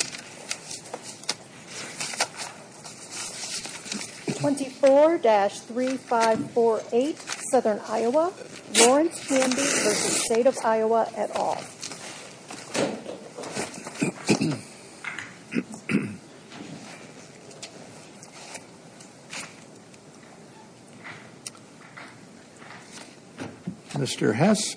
24-3548 Southern Iowa Lawrence Hamby v. State of Iowa et al. Mr. Heise.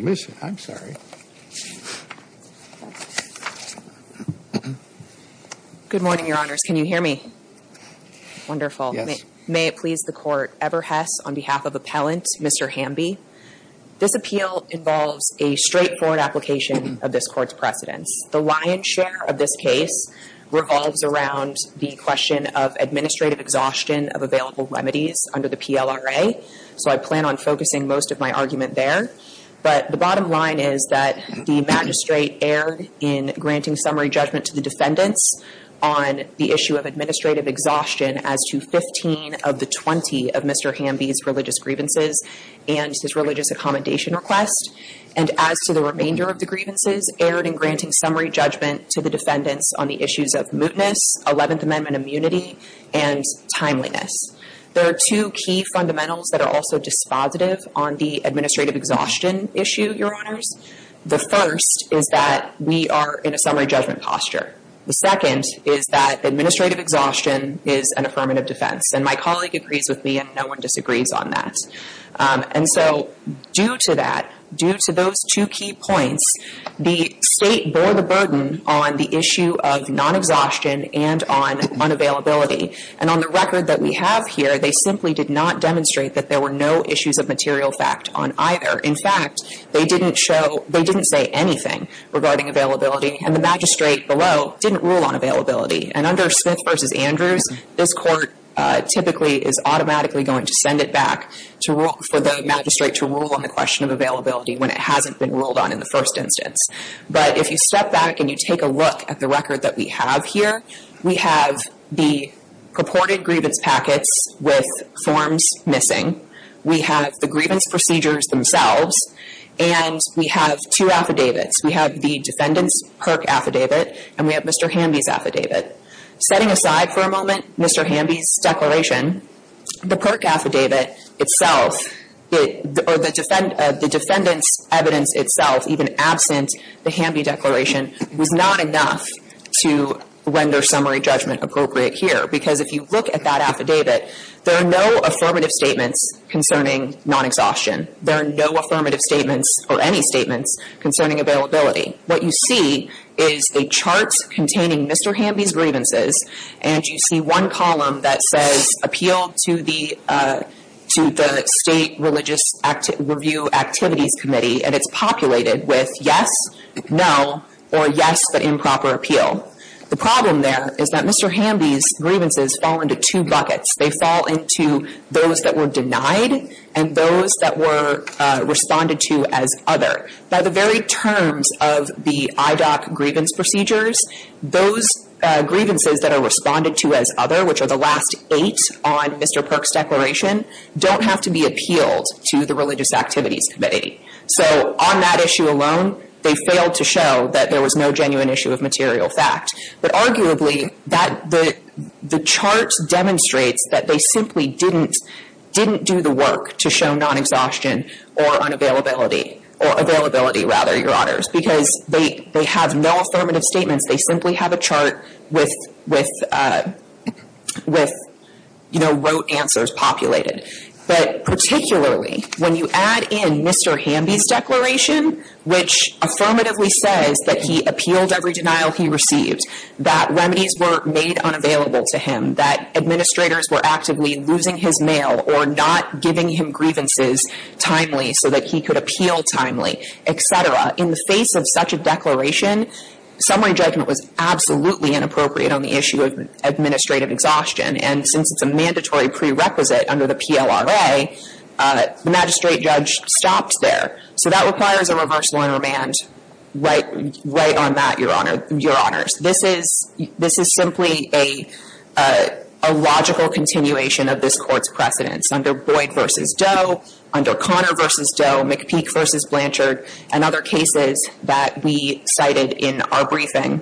Miss I'm sorry. Good morning, your honors. Can you hear me? Wonderful. May it please the court ever has on behalf of appellant, Mr. Hamby. This appeal involves a straightforward application of this court's precedence. The lion's share of this case revolves around the question of administrative exhaustion of available remedies under the PLRA. So I plan on focusing most of my argument there. But the bottom line is that the magistrate erred in granting summary judgment to the defendants on the issue of administrative exhaustion as to 15 of the 20 of Mr. Hamby's religious grievances and his religious accommodation request. And as to the remainder of the grievances erred in granting summary judgment to the defendants on the issues of mootness, 11th Amendment immunity, and timeliness. There are two key fundamentals that are also dispositive on the administrative exhaustion issue, your honors. The first is that we are in a summary judgment posture. The second is that administrative exhaustion is an affirmative defense. And my colleague agrees with me and no one disagrees on that. And so due to that, due to those two key points, the state bore the burden on the issue of non-exhaustion and on unavailability. And on the record that we have here, they simply did not demonstrate that there were no issues of material fact on either. In fact, they didn't show, they didn't say anything regarding availability. And the magistrate below didn't rule on availability. And under Smith v. Andrews, this court typically is automatically going to send it back for the magistrate to rule on the question of availability when it hasn't been ruled on in the first instance. But if you step back and you take a look at the record that we have here, we have the purported grievance packets with forms missing. We have the grievance procedures themselves. And we have two affidavits. We have the defendant's PERC affidavit and we have Mr. Hamby's affidavit. Setting aside for a moment Mr. Hamby's declaration, the PERC affidavit itself or the defendant's evidence itself, even absent the Hamby declaration, was not enough to render summary judgment appropriate here. Because if you look at that affidavit, there are no affirmative statements concerning non-exhaustion. There are no affirmative statements or any statements concerning availability. What you see is a chart containing Mr. Hamby's grievances and you see one column that says appeal to the State Religious Review Activities Committee. And it's populated with yes, no, or yes but improper appeal. The problem there is that Mr. Hamby's grievances fall into two buckets. They fall into those that were denied and those that were responded to as other. By the very terms of the IDOC grievance procedures, those grievances that are responded to as other, which are the last eight on Mr. PERC's declaration, don't have to be appealed to the Religious Activities Committee. So on that issue alone, they failed to show that there was no genuine issue of material fact. But arguably, the chart demonstrates that they simply didn't do the work to show non-exhaustion or unavailability. Or availability, rather, Your Honors, because they have no affirmative statements. They simply have a chart with, you know, rote answers populated. But particularly, when you add in Mr. Hamby's declaration, which affirmatively says that he appealed every denial he received, that remedies were made unavailable to him, that administrators were actively losing his mail or not giving him grievances timely so that he could appeal timely, et cetera. In the face of such a declaration, summary judgment was absolutely inappropriate on the issue of administrative exhaustion. And since it's a mandatory prerequisite under the PLRA, the magistrate judge stopped there. So that requires a reverse law and remand right on that, Your Honors. This is simply a logical continuation of this Court's precedents under Boyd v. Doe, under Connor v. Doe, McPeak v. Blanchard, and other cases that we cited in our briefing.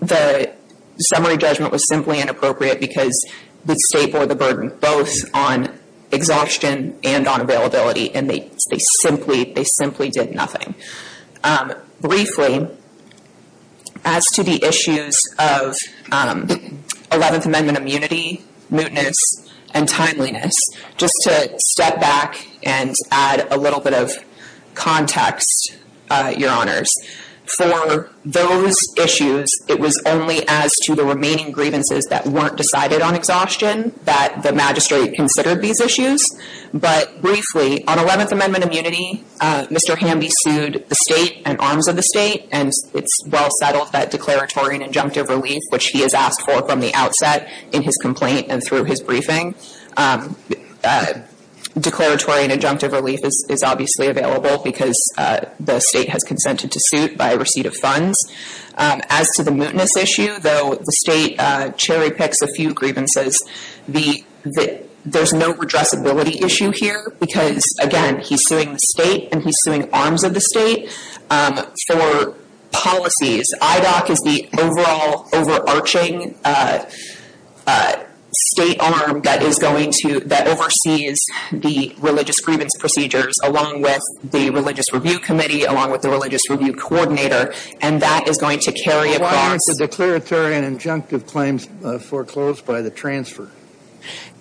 The summary judgment was simply inappropriate because the State bore the burden both on exhaustion and on availability, and they simply did nothing. Briefly, as to the issues of Eleventh Amendment immunity, mootness, and timeliness, just to step back and add a little bit of context, Your Honors. For those issues, it was only as to the remaining grievances that weren't decided on exhaustion that the magistrate considered these issues. But briefly, on Eleventh Amendment immunity, Mr. Hamby sued the State and arms of the State, and it's well settled that declaratory and injunctive relief, which he has asked for from the outset in his complaint and through his briefing, declaratory and injunctive relief is obviously available because the State has consented to suit by receipt of funds. As to the mootness issue, though, the State cherry picks a few grievances. There's no redressability issue here because, again, he's suing the State and he's suing arms of the State for policies. IDOC is the overall overarching State arm that is going to – that oversees the religious grievance procedures along with the Religious Review Committee, along with the Religious Review Coordinator, and that is going to carry across – But why aren't the declaratory and injunctive claims foreclosed by the transfer?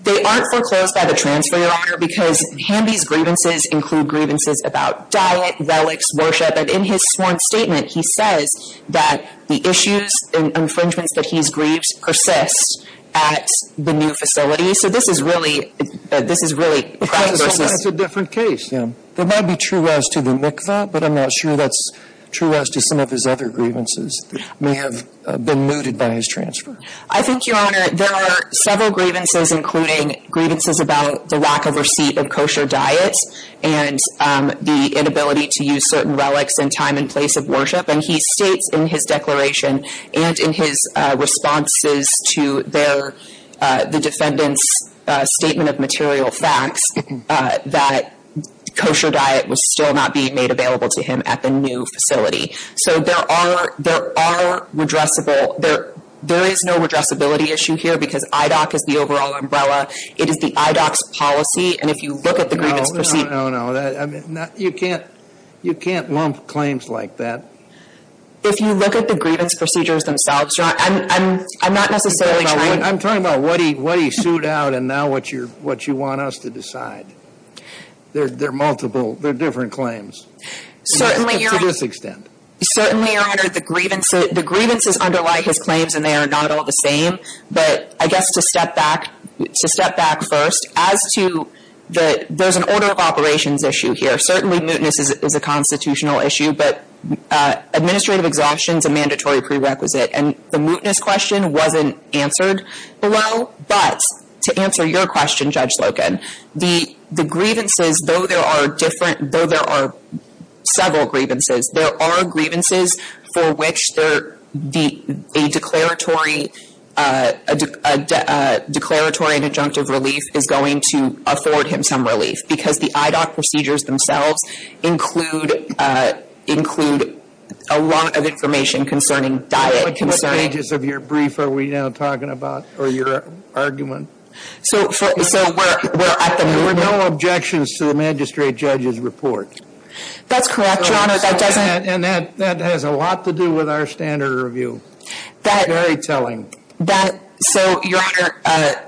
They aren't foreclosed by the transfer, Your Honor, because Hamby's grievances include grievances about diet, relics, worship. But in his sworn statement, he says that the issues and infringements that he's grieved persist at the new facility. So this is really – this is really – Because it's a different case. Yeah. There might be true rest to the MICVA, but I'm not sure that's true rest to some of his other grievances that may have been mooted by his transfer. I think, Your Honor, there are several grievances, including grievances about the lack of receipt of kosher diets and the inability to use certain relics in time and place of worship. And he states in his declaration and in his responses to their – the defendant's statement of material facts that kosher diet was still not being made available to him at the new facility. So there are – there are redressable – there is no redressability issue here because IDOC is the overall umbrella. It is the IDOC's policy, and if you look at the grievance – No, no, no, no. You can't – you can't lump claims like that. If you look at the grievance procedures themselves, Your Honor, I'm not necessarily trying – I'm talking about what he sued out and now what you're – what you want us to decide. They're multiple. They're different claims. Certainly, Your Honor. To this extent. Certainly, Your Honor, the grievances underlie his claims, and they are not all the same. But I guess to step back – to step back first, as to the – there's an order of operations issue here. Certainly, mootness is a constitutional issue, but administrative exhaustion is a mandatory prerequisite. And the mootness question wasn't answered below, but to answer your question, Judge Slocum, the grievances, though there are different – though there are several grievances, there are grievances for which there – a declaratory – a declaratory and adjunctive relief is going to afford him some relief. Because the IDOC procedures themselves include – include a lot of information concerning diet, concerning – What pages of your brief are we now talking about? Or your argument? So – so we're – we're at the – There were no objections to the magistrate judge's report. That's correct, Your Honor. That doesn't – And that – that has a lot to do with our standard review. That – Very telling. That – so, Your Honor –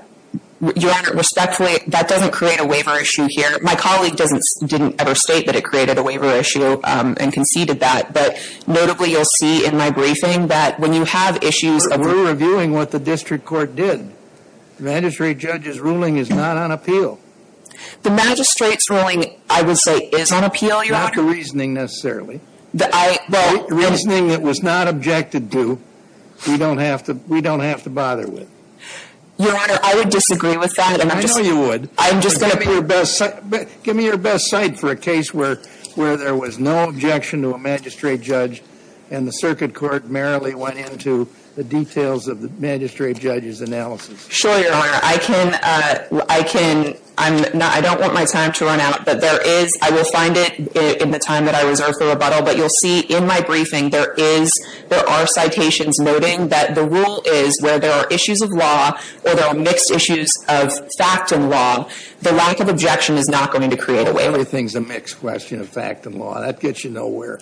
Your Honor, respectfully, that doesn't create a waiver issue here. My colleague doesn't – didn't ever state that it created a waiver issue and conceded that. But notably, you'll see in my briefing that when you have issues of – We're reviewing what the district court did. The magistrate judge's ruling is not on appeal. The magistrate's ruling, I would say, is on appeal, Your Honor. Not the reasoning, necessarily. I – well – Reasoning that was not objected to. We don't have to – we don't have to bother with. Your Honor, I would disagree with that. And I'm just – I know you would. I'm just going to put – Give me your best – give me your best cite for a case where – where there was no objection to a magistrate judge and the circuit court merrily went into the details of the magistrate judge's analysis. Sure, Your Honor. I can – I can – I'm not – I don't want my time to run out. But there is – I will find it in the time that I reserve for rebuttal. But you'll see in my briefing there is – there are citations noting that the rule is where there are issues of law or there are mixed issues of fact and law, the lack of objection is not going to create a waiver. Everything's a mixed question of fact and law. That gets you nowhere.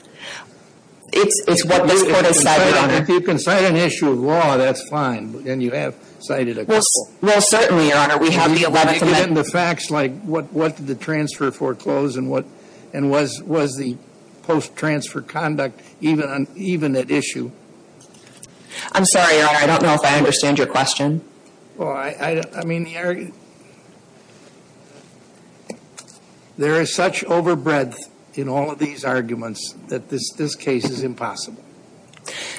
It's what this court has cited, Your Honor. If you can cite an issue of law, that's fine. But then you have cited a couple. Well, certainly, Your Honor. We have the 11th Amendment. And then the facts like what – what did the transfer foreclose and what – and was – was the post-transfer conduct even – even at issue? I'm sorry, Your Honor. I don't know if I understand your question. Well, I – I mean, the – there is such overbreadth in all of these arguments that this – this case is impossible.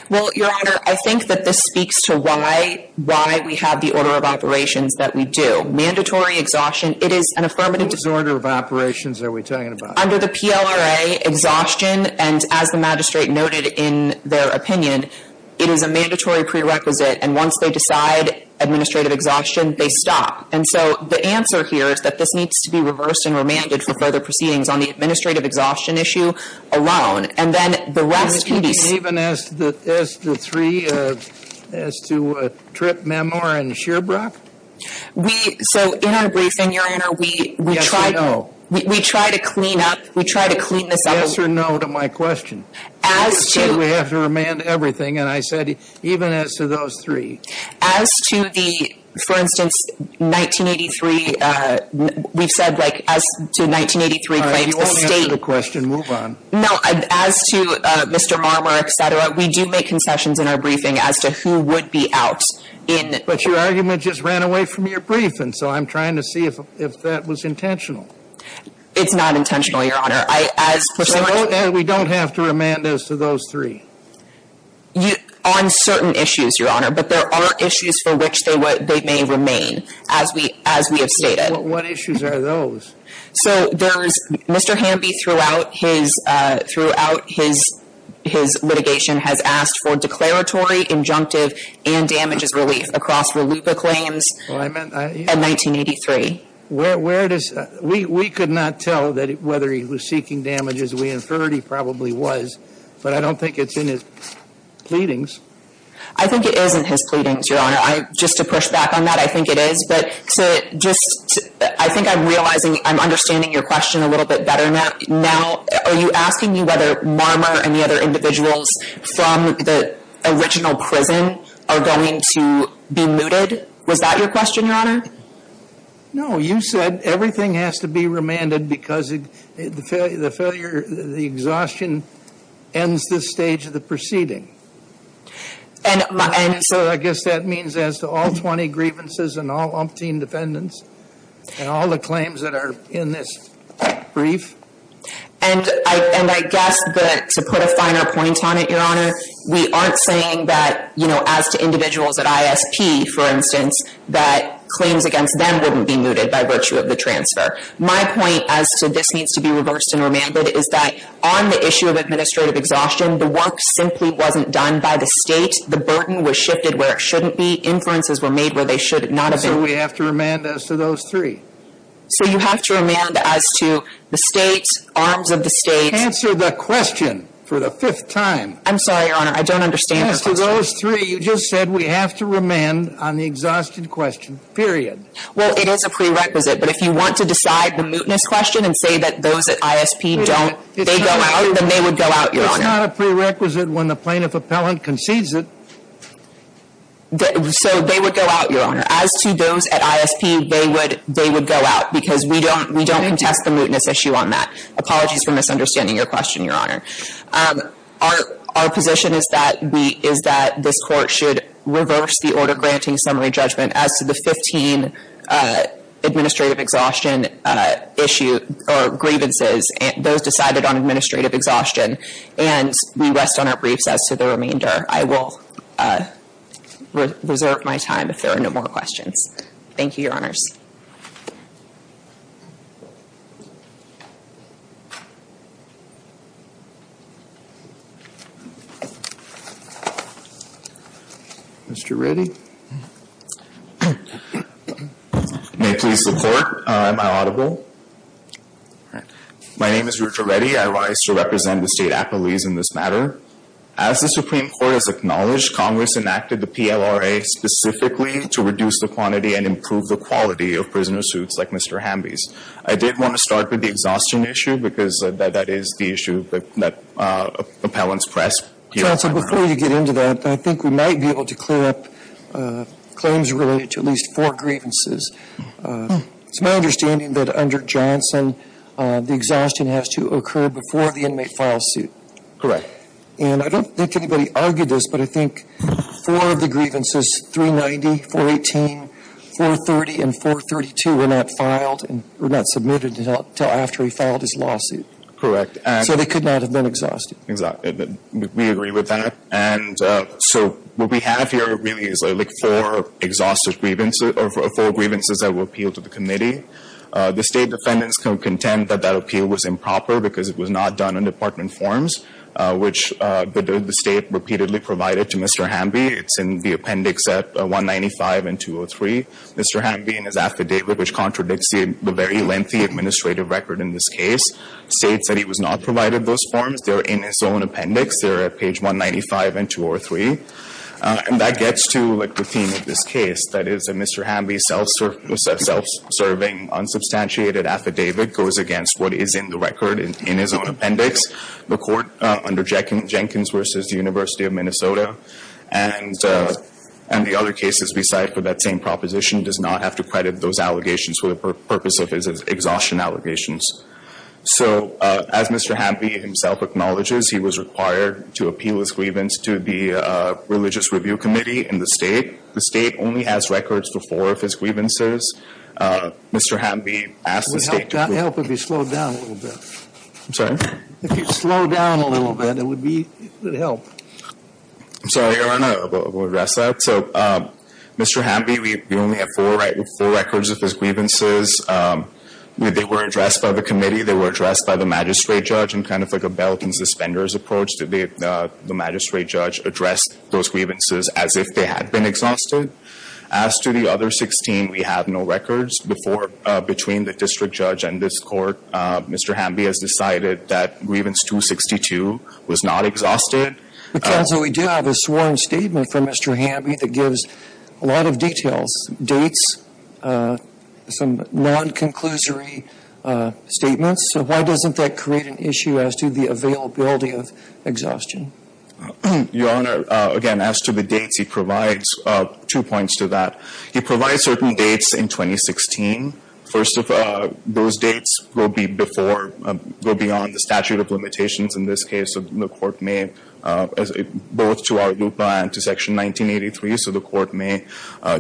Well, Your Honor, I think that this speaks to why – why we have the order of operations that we do. Mandatory exhaustion, it is an affirmative – What order of operations are we talking about? Under the PLRA, exhaustion, and as the magistrate noted in their opinion, it is a mandatory prerequisite. And once they decide administrative exhaustion, they stop. And so the answer here is that this needs to be reversed and remanded for further proceedings on the administrative exhaustion issue alone. And then the rest would be – You mean even as the – as the three, as to Tripp, Memoir, and Sherbrock? We – so in our briefing, Your Honor, we – Yes or no? We try to clean up – we try to clean this up a little. Yes or no to my question? As to – You said we have to remand everything. And I said even as to those three. As to the – for instance, 1983, we've said, like, as to 1983 claims, the state – If you won't answer the question, move on. No. As to Mr. Marmer, et cetera, we do make concessions in our briefing as to who would be out in – But your argument just ran away from your briefing, so I'm trying to see if that was intentional. It's not intentional, Your Honor. I – as – So we don't have to remand as to those three? You – on certain issues, Your Honor. But there are issues for which they may remain, as we – as we have stated. What issues are those? So there's – Mr. Hamby throughout his – throughout his litigation has asked for declaratory, injunctive, and damages relief across RLUIPA claims. Well, I meant – In 1983. Where does – we could not tell whether he was seeking damages. We inferred he probably was, but I don't think it's in his pleadings. I think it is in his pleadings, Your Honor. Just to push back on that, I think it is. But to just – I think I'm realizing – I'm understanding your question a little bit better now. Are you asking me whether Marmer and the other individuals from the original prison are going to be mooted? Was that your question, Your Honor? No. You said everything has to be remanded because the failure – the exhaustion ends this stage of the proceeding. And – So I guess that means as to all 20 grievances and all umpteen defendants and all the claims that are in this brief? And I – and I guess that to put a finer point on it, Your Honor, we aren't saying that, you know, as to individuals at ISP, for instance, that claims against them wouldn't be mooted by virtue of the transfer. My point as to this needs to be reversed and remanded is that on the issue of administrative exhaustion, the work simply wasn't done by the State. The burden was shifted where it shouldn't be. Inferences were made where they should not have been. So we have to remand as to those three? So you have to remand as to the State, arms of the State. Answer the question for the fifth time. I'm sorry, Your Honor. I don't understand your question. As to those three, you just said we have to remand on the exhausted question, period. Well, it is a prerequisite. But if you want to decide the mootness question and say that those at ISP don't – they go out, then they would go out, Your Honor. It's not a prerequisite when the plaintiff appellant concedes it. So they would go out, Your Honor. As to those at ISP, they would – they would go out because we don't – we don't contest the mootness issue on that. Apologies for misunderstanding your question, Your Honor. Our position is that we – is that this court should reverse the order granting summary judgment as to the 15 administrative exhaustion issue or grievances. Those decided on administrative exhaustion. And we rest on our briefs as to the remainder. I will reserve my time if there are no more questions. Thank you, Your Honors. Mr. Reddy? May it please the Court. Am I audible? My name is Richard Reddy. I rise to represent the State Appellees in this matter. As the Supreme Court has acknowledged, Congress enacted the PLRA specifically to reduce the quantity and improve the quality of prisoner suits like Mr. Hamby's. I did want to start with the exhaustion issue because that is the issue that appellants press. Johnson, before you get into that, I think we might be able to clear up claims related to at least four grievances. It's my understanding that under Johnson, the exhaustion has to occur before the inmate files suit. Correct. And I don't think anybody argued this, but I think four of the grievances, 390, 418, 430, and 432, were not filed – were not submitted until after he filed his lawsuit. Correct. So they could not have been exhausted. Exactly. We agree with that. And so what we have here really is like four exhaustive grievances – or four grievances that were appealed to the committee. The State defendants can contend that that appeal was improper because it was not done in department forms, which the State repeatedly provided to Mr. Hamby. It's in the appendix at 195 and 203. Mr. Hamby and his affidavit, which contradicts the very lengthy administrative record in this case, states that he was not provided those forms. They're in his own appendix. They're at page 195 and 203. And that gets to, like, the theme of this case. That is that Mr. Hamby's self-serving, unsubstantiated affidavit goes against what is in the record in his own appendix, the court under Jenkins v. University of Minnesota. And the other cases we cite for that same proposition does not have to credit those allegations for the purpose of his exhaustion allegations. So, as Mr. Hamby himself acknowledges, he was required to appeal his grievance to the Religious Review Committee in the State. The State only has records for four of his grievances. Mr. Hamby asked the State to – Help if you slow down a little bit. I'm sorry? If you slow down a little bit, it would be – it would help. I'm sorry, Your Honor. We'll address that. So, Mr. Hamby, we only have four, right? We have four records of his grievances. They were addressed by the committee. They were addressed by the magistrate judge in kind of like a belt and suspenders approach. The magistrate judge addressed those grievances as if they had been exhausted. As to the other 16, we have no records. Before – between the district judge and this court, Mr. Hamby has decided that grievance 262 was not exhausted. Counsel, we do have a sworn statement from Mr. Hamby that gives a lot of details, dates, some non-conclusory statements. So, why doesn't that create an issue as to the availability of exhaustion? Your Honor, again, as to the dates, he provides two points to that. He provides certain dates in 2016. First of all, those dates will be before – go beyond the statute of limitations. In this case, the court may – both to our LUPA and to Section 1983. So, the court may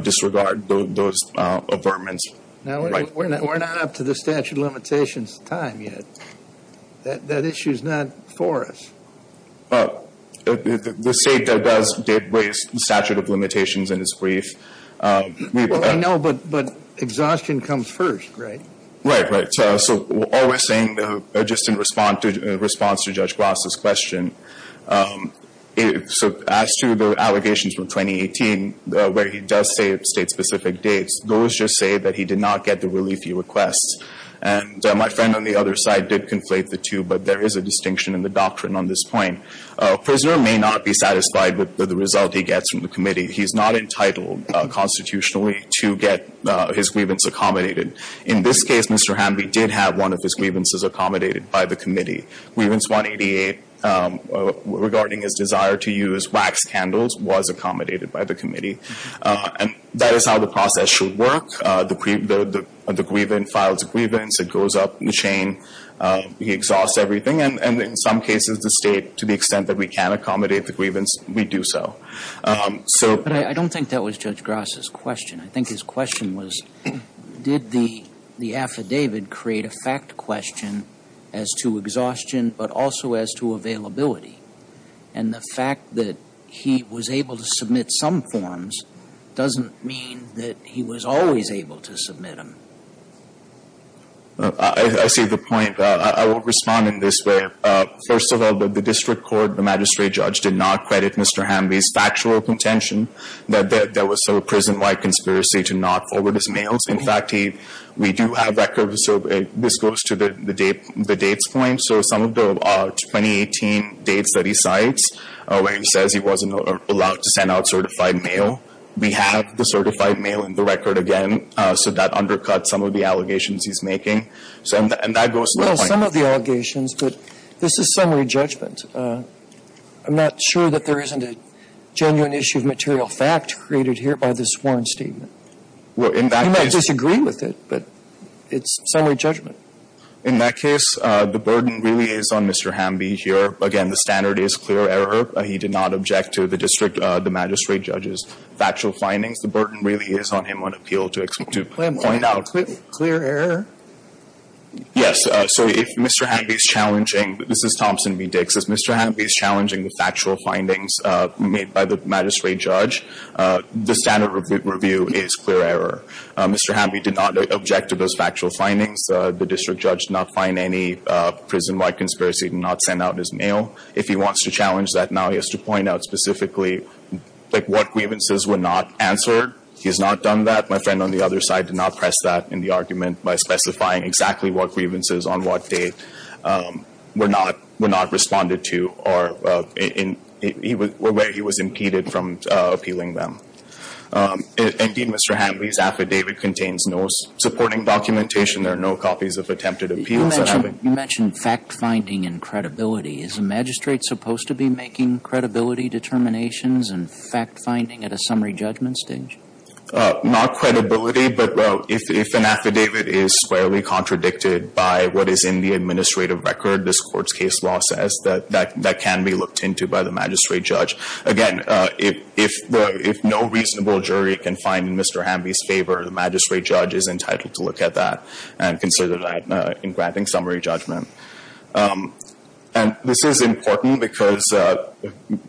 disregard those avertments. Now, we're not up to the statute of limitations time yet. That issue is not for us. The state does raise the statute of limitations in its brief. Well, I know, but exhaustion comes first, right? Right, right. So, all we're saying, just in response to Judge Gloss' question, as to the allegations from 2018 where he does say state-specific dates, those just say that he did not get the relief he requests. And my friend on the other side did conflate the two, but there is a distinction in the doctrine on this point. A prisoner may not be satisfied with the result he gets from the committee. He's not entitled constitutionally to get his grievance accommodated. In this case, Mr. Hamby did have one of his grievances accommodated by the committee. Grievance 188, regarding his desire to use wax candles, was accommodated by the committee. And that is how the process should work. The grievant files a grievance. It goes up the chain. He exhausts everything. And in some cases, the state, to the extent that we can accommodate the grievance, we do so. But I don't think that was Judge Gloss' question. I think his question was, did the affidavit create a fact question as to exhaustion, but also as to availability? And the fact that he was able to submit some forms doesn't mean that he was always able to submit them. I see the point. I will respond in this way. First of all, the district court, the magistrate judge, did not credit Mr. Hamby's factual contention that there was a prison-wide conspiracy to not forward his mails. In fact, we do have records. So this goes to the dates point. So some of the 2018 dates that he cites, where he says he wasn't allowed to send out certified mail, we have the certified mail in the record again. So that undercuts some of the allegations he's making. And that goes to the point. I'm not sure that there isn't a genuine issue of material fact created here by this warrant statement. You might disagree with it, but it's summary judgment. In that case, the burden really is on Mr. Hamby here. Again, the standard is clear error. He did not object to the district, the magistrate judge's factual findings. The burden really is on him on appeal to point out. Clear error? Yes. So if Mr. Hamby is challenging, this is Thompson v. Dix, if Mr. Hamby is challenging the factual findings made by the magistrate judge, the standard review is clear error. Mr. Hamby did not object to those factual findings. The district judge did not find any prison-wide conspiracy to not send out his mail. If he wants to challenge that now, he has to point out specifically what grievances were not answered. He has not done that. My friend on the other side did not press that in the argument by specifying exactly what grievances on what day were not responded to or where he was impeded from appealing them. Indeed, Mr. Hamby's affidavit contains no supporting documentation. There are no copies of attempted appeals. You mentioned fact-finding and credibility. Is the magistrate supposed to be making credibility determinations and fact-finding at a summary judgment stage? Not credibility, but if an affidavit is squarely contradicted by what is in the administrative record, this court's case law says that that can be looked into by the magistrate judge. Again, if no reasonable jury can find Mr. Hamby's favor, the magistrate judge is entitled to look at that and consider that in granting summary judgment. And this is important because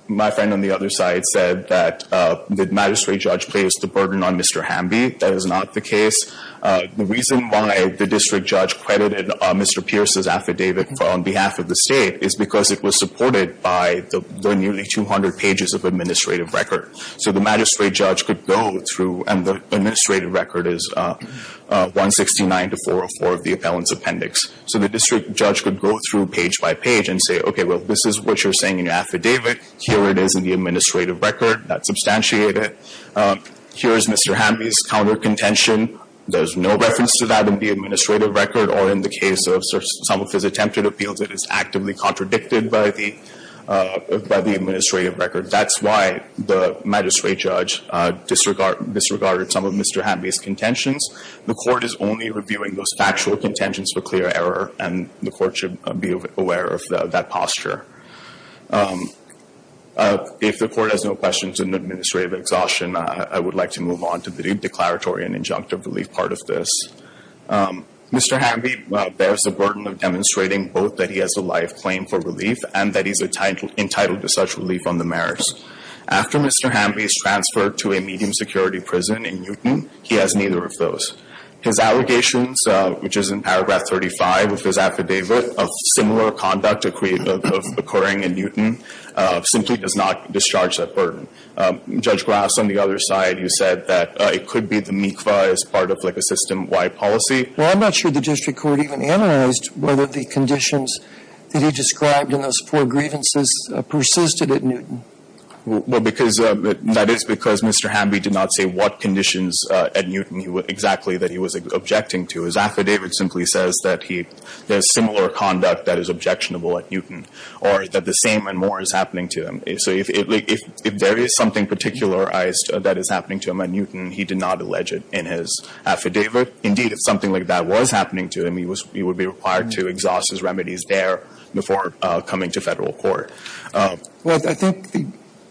my friend on the other side said that the magistrate judge placed the burden on Mr. Hamby. That is not the case. The reason why the district judge credited Mr. Pierce's affidavit on behalf of the state is because it was supported by the nearly 200 pages of administrative record. So the magistrate judge could go through, and the administrative record is 169 to 404 of the appellant's appendix. So the district judge could go through page by page and say, okay, well, this is what you're saying in your affidavit. Here it is in the administrative record. That's substantiated. Here is Mr. Hamby's counter-contention. There's no reference to that in the administrative record or in the case of some of his attempted appeals. It is actively contradicted by the administrative record. That's why the magistrate judge disregarded some of Mr. Hamby's contentions. The court is only reviewing those factual contentions for clear error, and the court should be aware of that posture. If the court has no questions in administrative exhaustion, I would like to move on to the declaratory and injunctive relief part of this. Mr. Hamby bears the burden of demonstrating both that he has a life claim for relief and that he's entitled to such relief on the merits. After Mr. Hamby is transferred to a medium security prison in Newton, he has neither of those. His allegations, which is in paragraph 35 of his affidavit, of similar conduct occurring in Newton, simply does not discharge that burden. Judge Grass, on the other side, you said that it could be the Mi'kva as part of, like, a system-wide policy. Well, I'm not sure the district court even analyzed whether the conditions that he described in those four grievances persisted at Newton. Well, that is because Mr. Hamby did not say what conditions at Newton exactly that he was objecting to. His affidavit simply says that he has similar conduct that is objectionable at Newton, or that the same and more is happening to him. So if there is something particularized that is happening to him at Newton, he did not allege it in his affidavit. Indeed, if something like that was happening to him, he would be required to exhaust his remedies there before coming to Federal court. Well, I think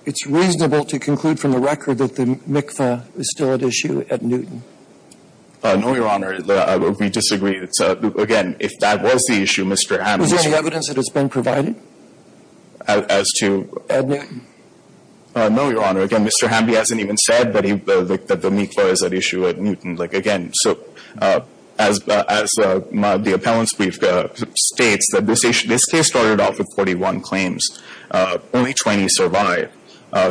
it's reasonable to conclude from the record that the Mi'kva is still at issue at Newton. No, Your Honor. We disagree. Again, if that was the issue, Mr. Hamby — Was there any evidence that has been provided? As to — At Newton? No, Your Honor. Again, Mr. Hamby hasn't even said that the Mi'kva is at issue at Newton. Like, again, so as the appellant's brief states, that this case started off with 41 claims. Only 20 survived.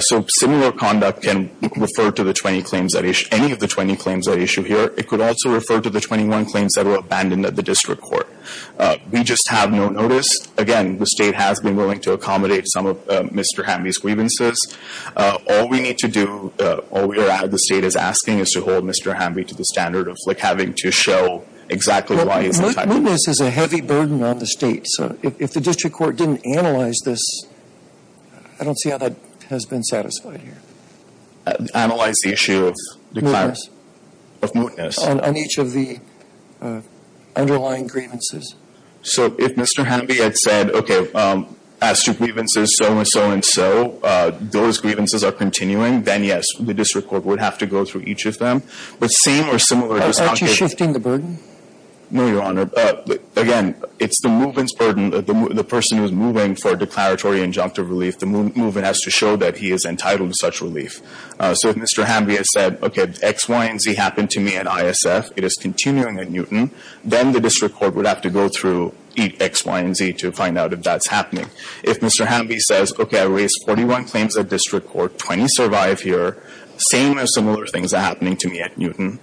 So similar conduct can refer to the 20 claims that — any of the 20 claims at issue here. It could also refer to the 21 claims that were abandoned at the district court. We just have no notice. Again, the State has been willing to accommodate some of Mr. Hamby's grievances. All we need to do, all we are — the State is asking is to hold Mr. Hamby to the standard of, like, having to show exactly why he is entitled — Well, whiteness is a heavy burden on the State. So if the district court didn't analyze this, I don't see how that has been satisfied here. Analyze the issue of declarative — Of mootness. On each of the underlying grievances. So if Mr. Hamby had said, okay, as to grievances so and so and so, those grievances are continuing, then, yes, the district court would have to go through each of them. But same or similar — Aren't you shifting the burden? No, Your Honor. Again, it's the movement's burden. The person who's moving for declaratory injunctive relief, the movement has to show that he is entitled to such relief. So if Mr. Hamby had said, okay, X, Y, and Z happened to me at ISF, it is continuing at Newton, then the district court would have to go through each X, Y, and Z to find out if that's happening. If Mr. Hamby says, okay, I raised 41 claims at district court, 20 survive here, same or similar things are happening to me at Newton,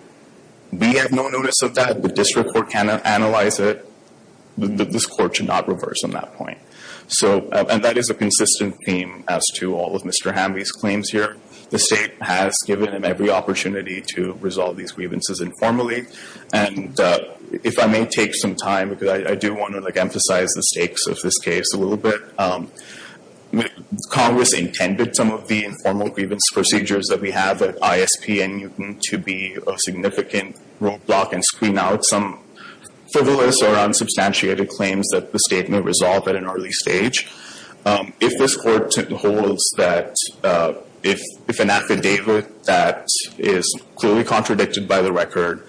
we have no notice of that, the district court cannot analyze it, this court should not reverse on that point. And that is a consistent theme as to all of Mr. Hamby's claims here. The state has given him every opportunity to resolve these grievances informally. And if I may take some time, because I do want to emphasize the stakes of this case a little bit, Congress intended some of the informal grievance procedures that we have at ISP and Newton to be a significant roadblock and screen out some frivolous or unsubstantiated claims that the state may resolve at an early stage. If this court holds that if an affidavit that is clearly contradicted by the record,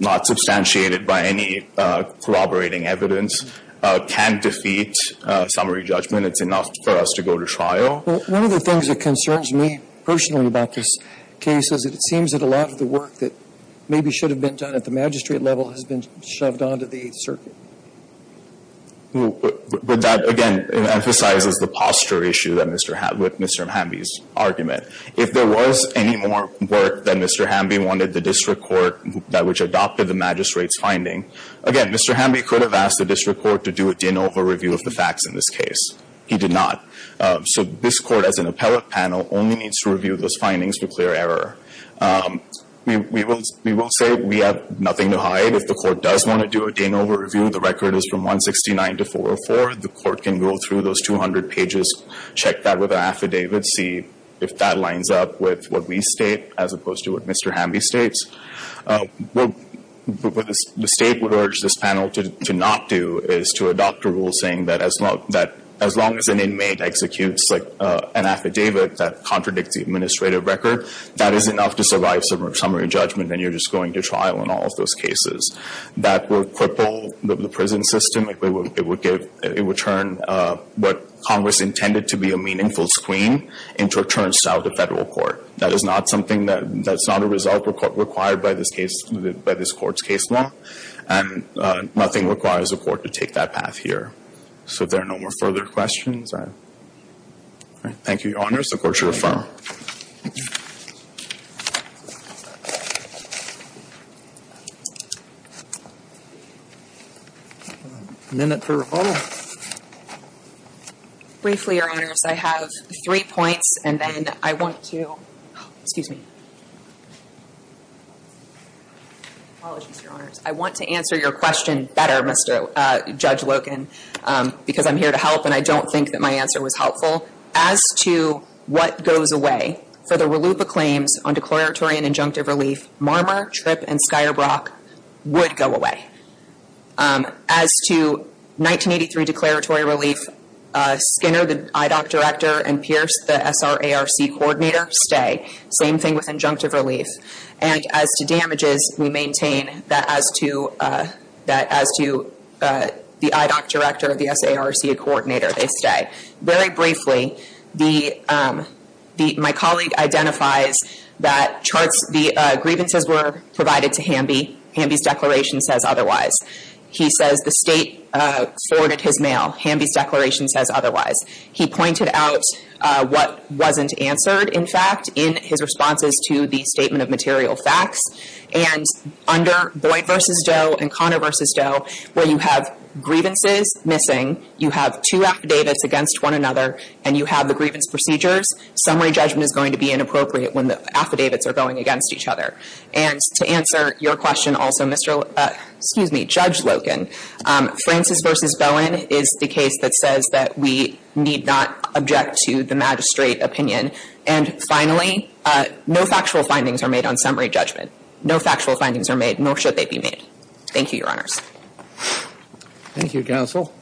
not substantiated by any corroborating evidence, can defeat summary judgment, it's enough for us to go to trial. One of the things that concerns me personally about this case is that it seems that a lot of the work that maybe should have been done at the magistrate level has been shoved onto the Eighth Circuit. But that, again, emphasizes the posture issue with Mr. Hamby's argument. If there was any more work that Mr. Hamby wanted the district court, which adopted the magistrate's finding, again, Mr. Hamby could have asked the district court to do a de novo review of the facts in this case. He did not. So this court, as an appellate panel, only needs to review those findings to clear error. We will say we have nothing to hide. If the court does want to do a de novo review, the record is from 169 to 404. The court can go through those 200 pages, check that with an affidavit, see if that lines up with what we state as opposed to what Mr. Hamby states. What the state would urge this panel to not do is to adopt a rule saying that as long as an inmate executes an affidavit that contradicts the administrative record, that is enough to survive summary judgment and you're just going to trial in all of those cases. That would cripple the prison system. It would turn what Congress intended to be a meaningful screen into a turnstile of the federal court. That is not something that's not a result required by this court's case law, and nothing requires a court to take that path here. So if there are no more further questions, I thank you, Your Honors. The court should affirm. Thank you. A minute for review. Briefly, Your Honors, I have three points, and then I want to – excuse me. Apologies, Your Honors. I want to answer your question better, Judge Loken, because I'm here to help, and I don't think that my answer was helpful. As to what goes away for the RLUIPA claims on declaratory and injunctive relief, Marmor, Tripp, and Skyer Brock would go away. As to 1983 declaratory relief, Skinner, the IDOC director, and Pierce, the SARC coordinator, stay. Same thing with injunctive relief. And as to damages, we maintain that as to the IDOC director, the SARC coordinator, they stay. Very briefly, my colleague identifies that the grievances were provided to Hamby. Hamby's declaration says otherwise. He says the state forwarded his mail. Hamby's declaration says otherwise. He pointed out what wasn't answered, in fact, in his responses to the statement of material facts. And under Boyd v. Doe and Conner v. Doe, where you have grievances missing, you have two affidavits against one another, and you have the grievance procedures, summary judgment is going to be inappropriate when the affidavits are going against each other. And to answer your question also, Mr. ‑‑ excuse me, Judge Loken, Francis v. Bowen is the case that says that we need not object to the magistrate opinion. And finally, no factual findings are made on summary judgment. No factual findings are made, nor should they be made. Thank you, Your Honors. Thank you, counsel.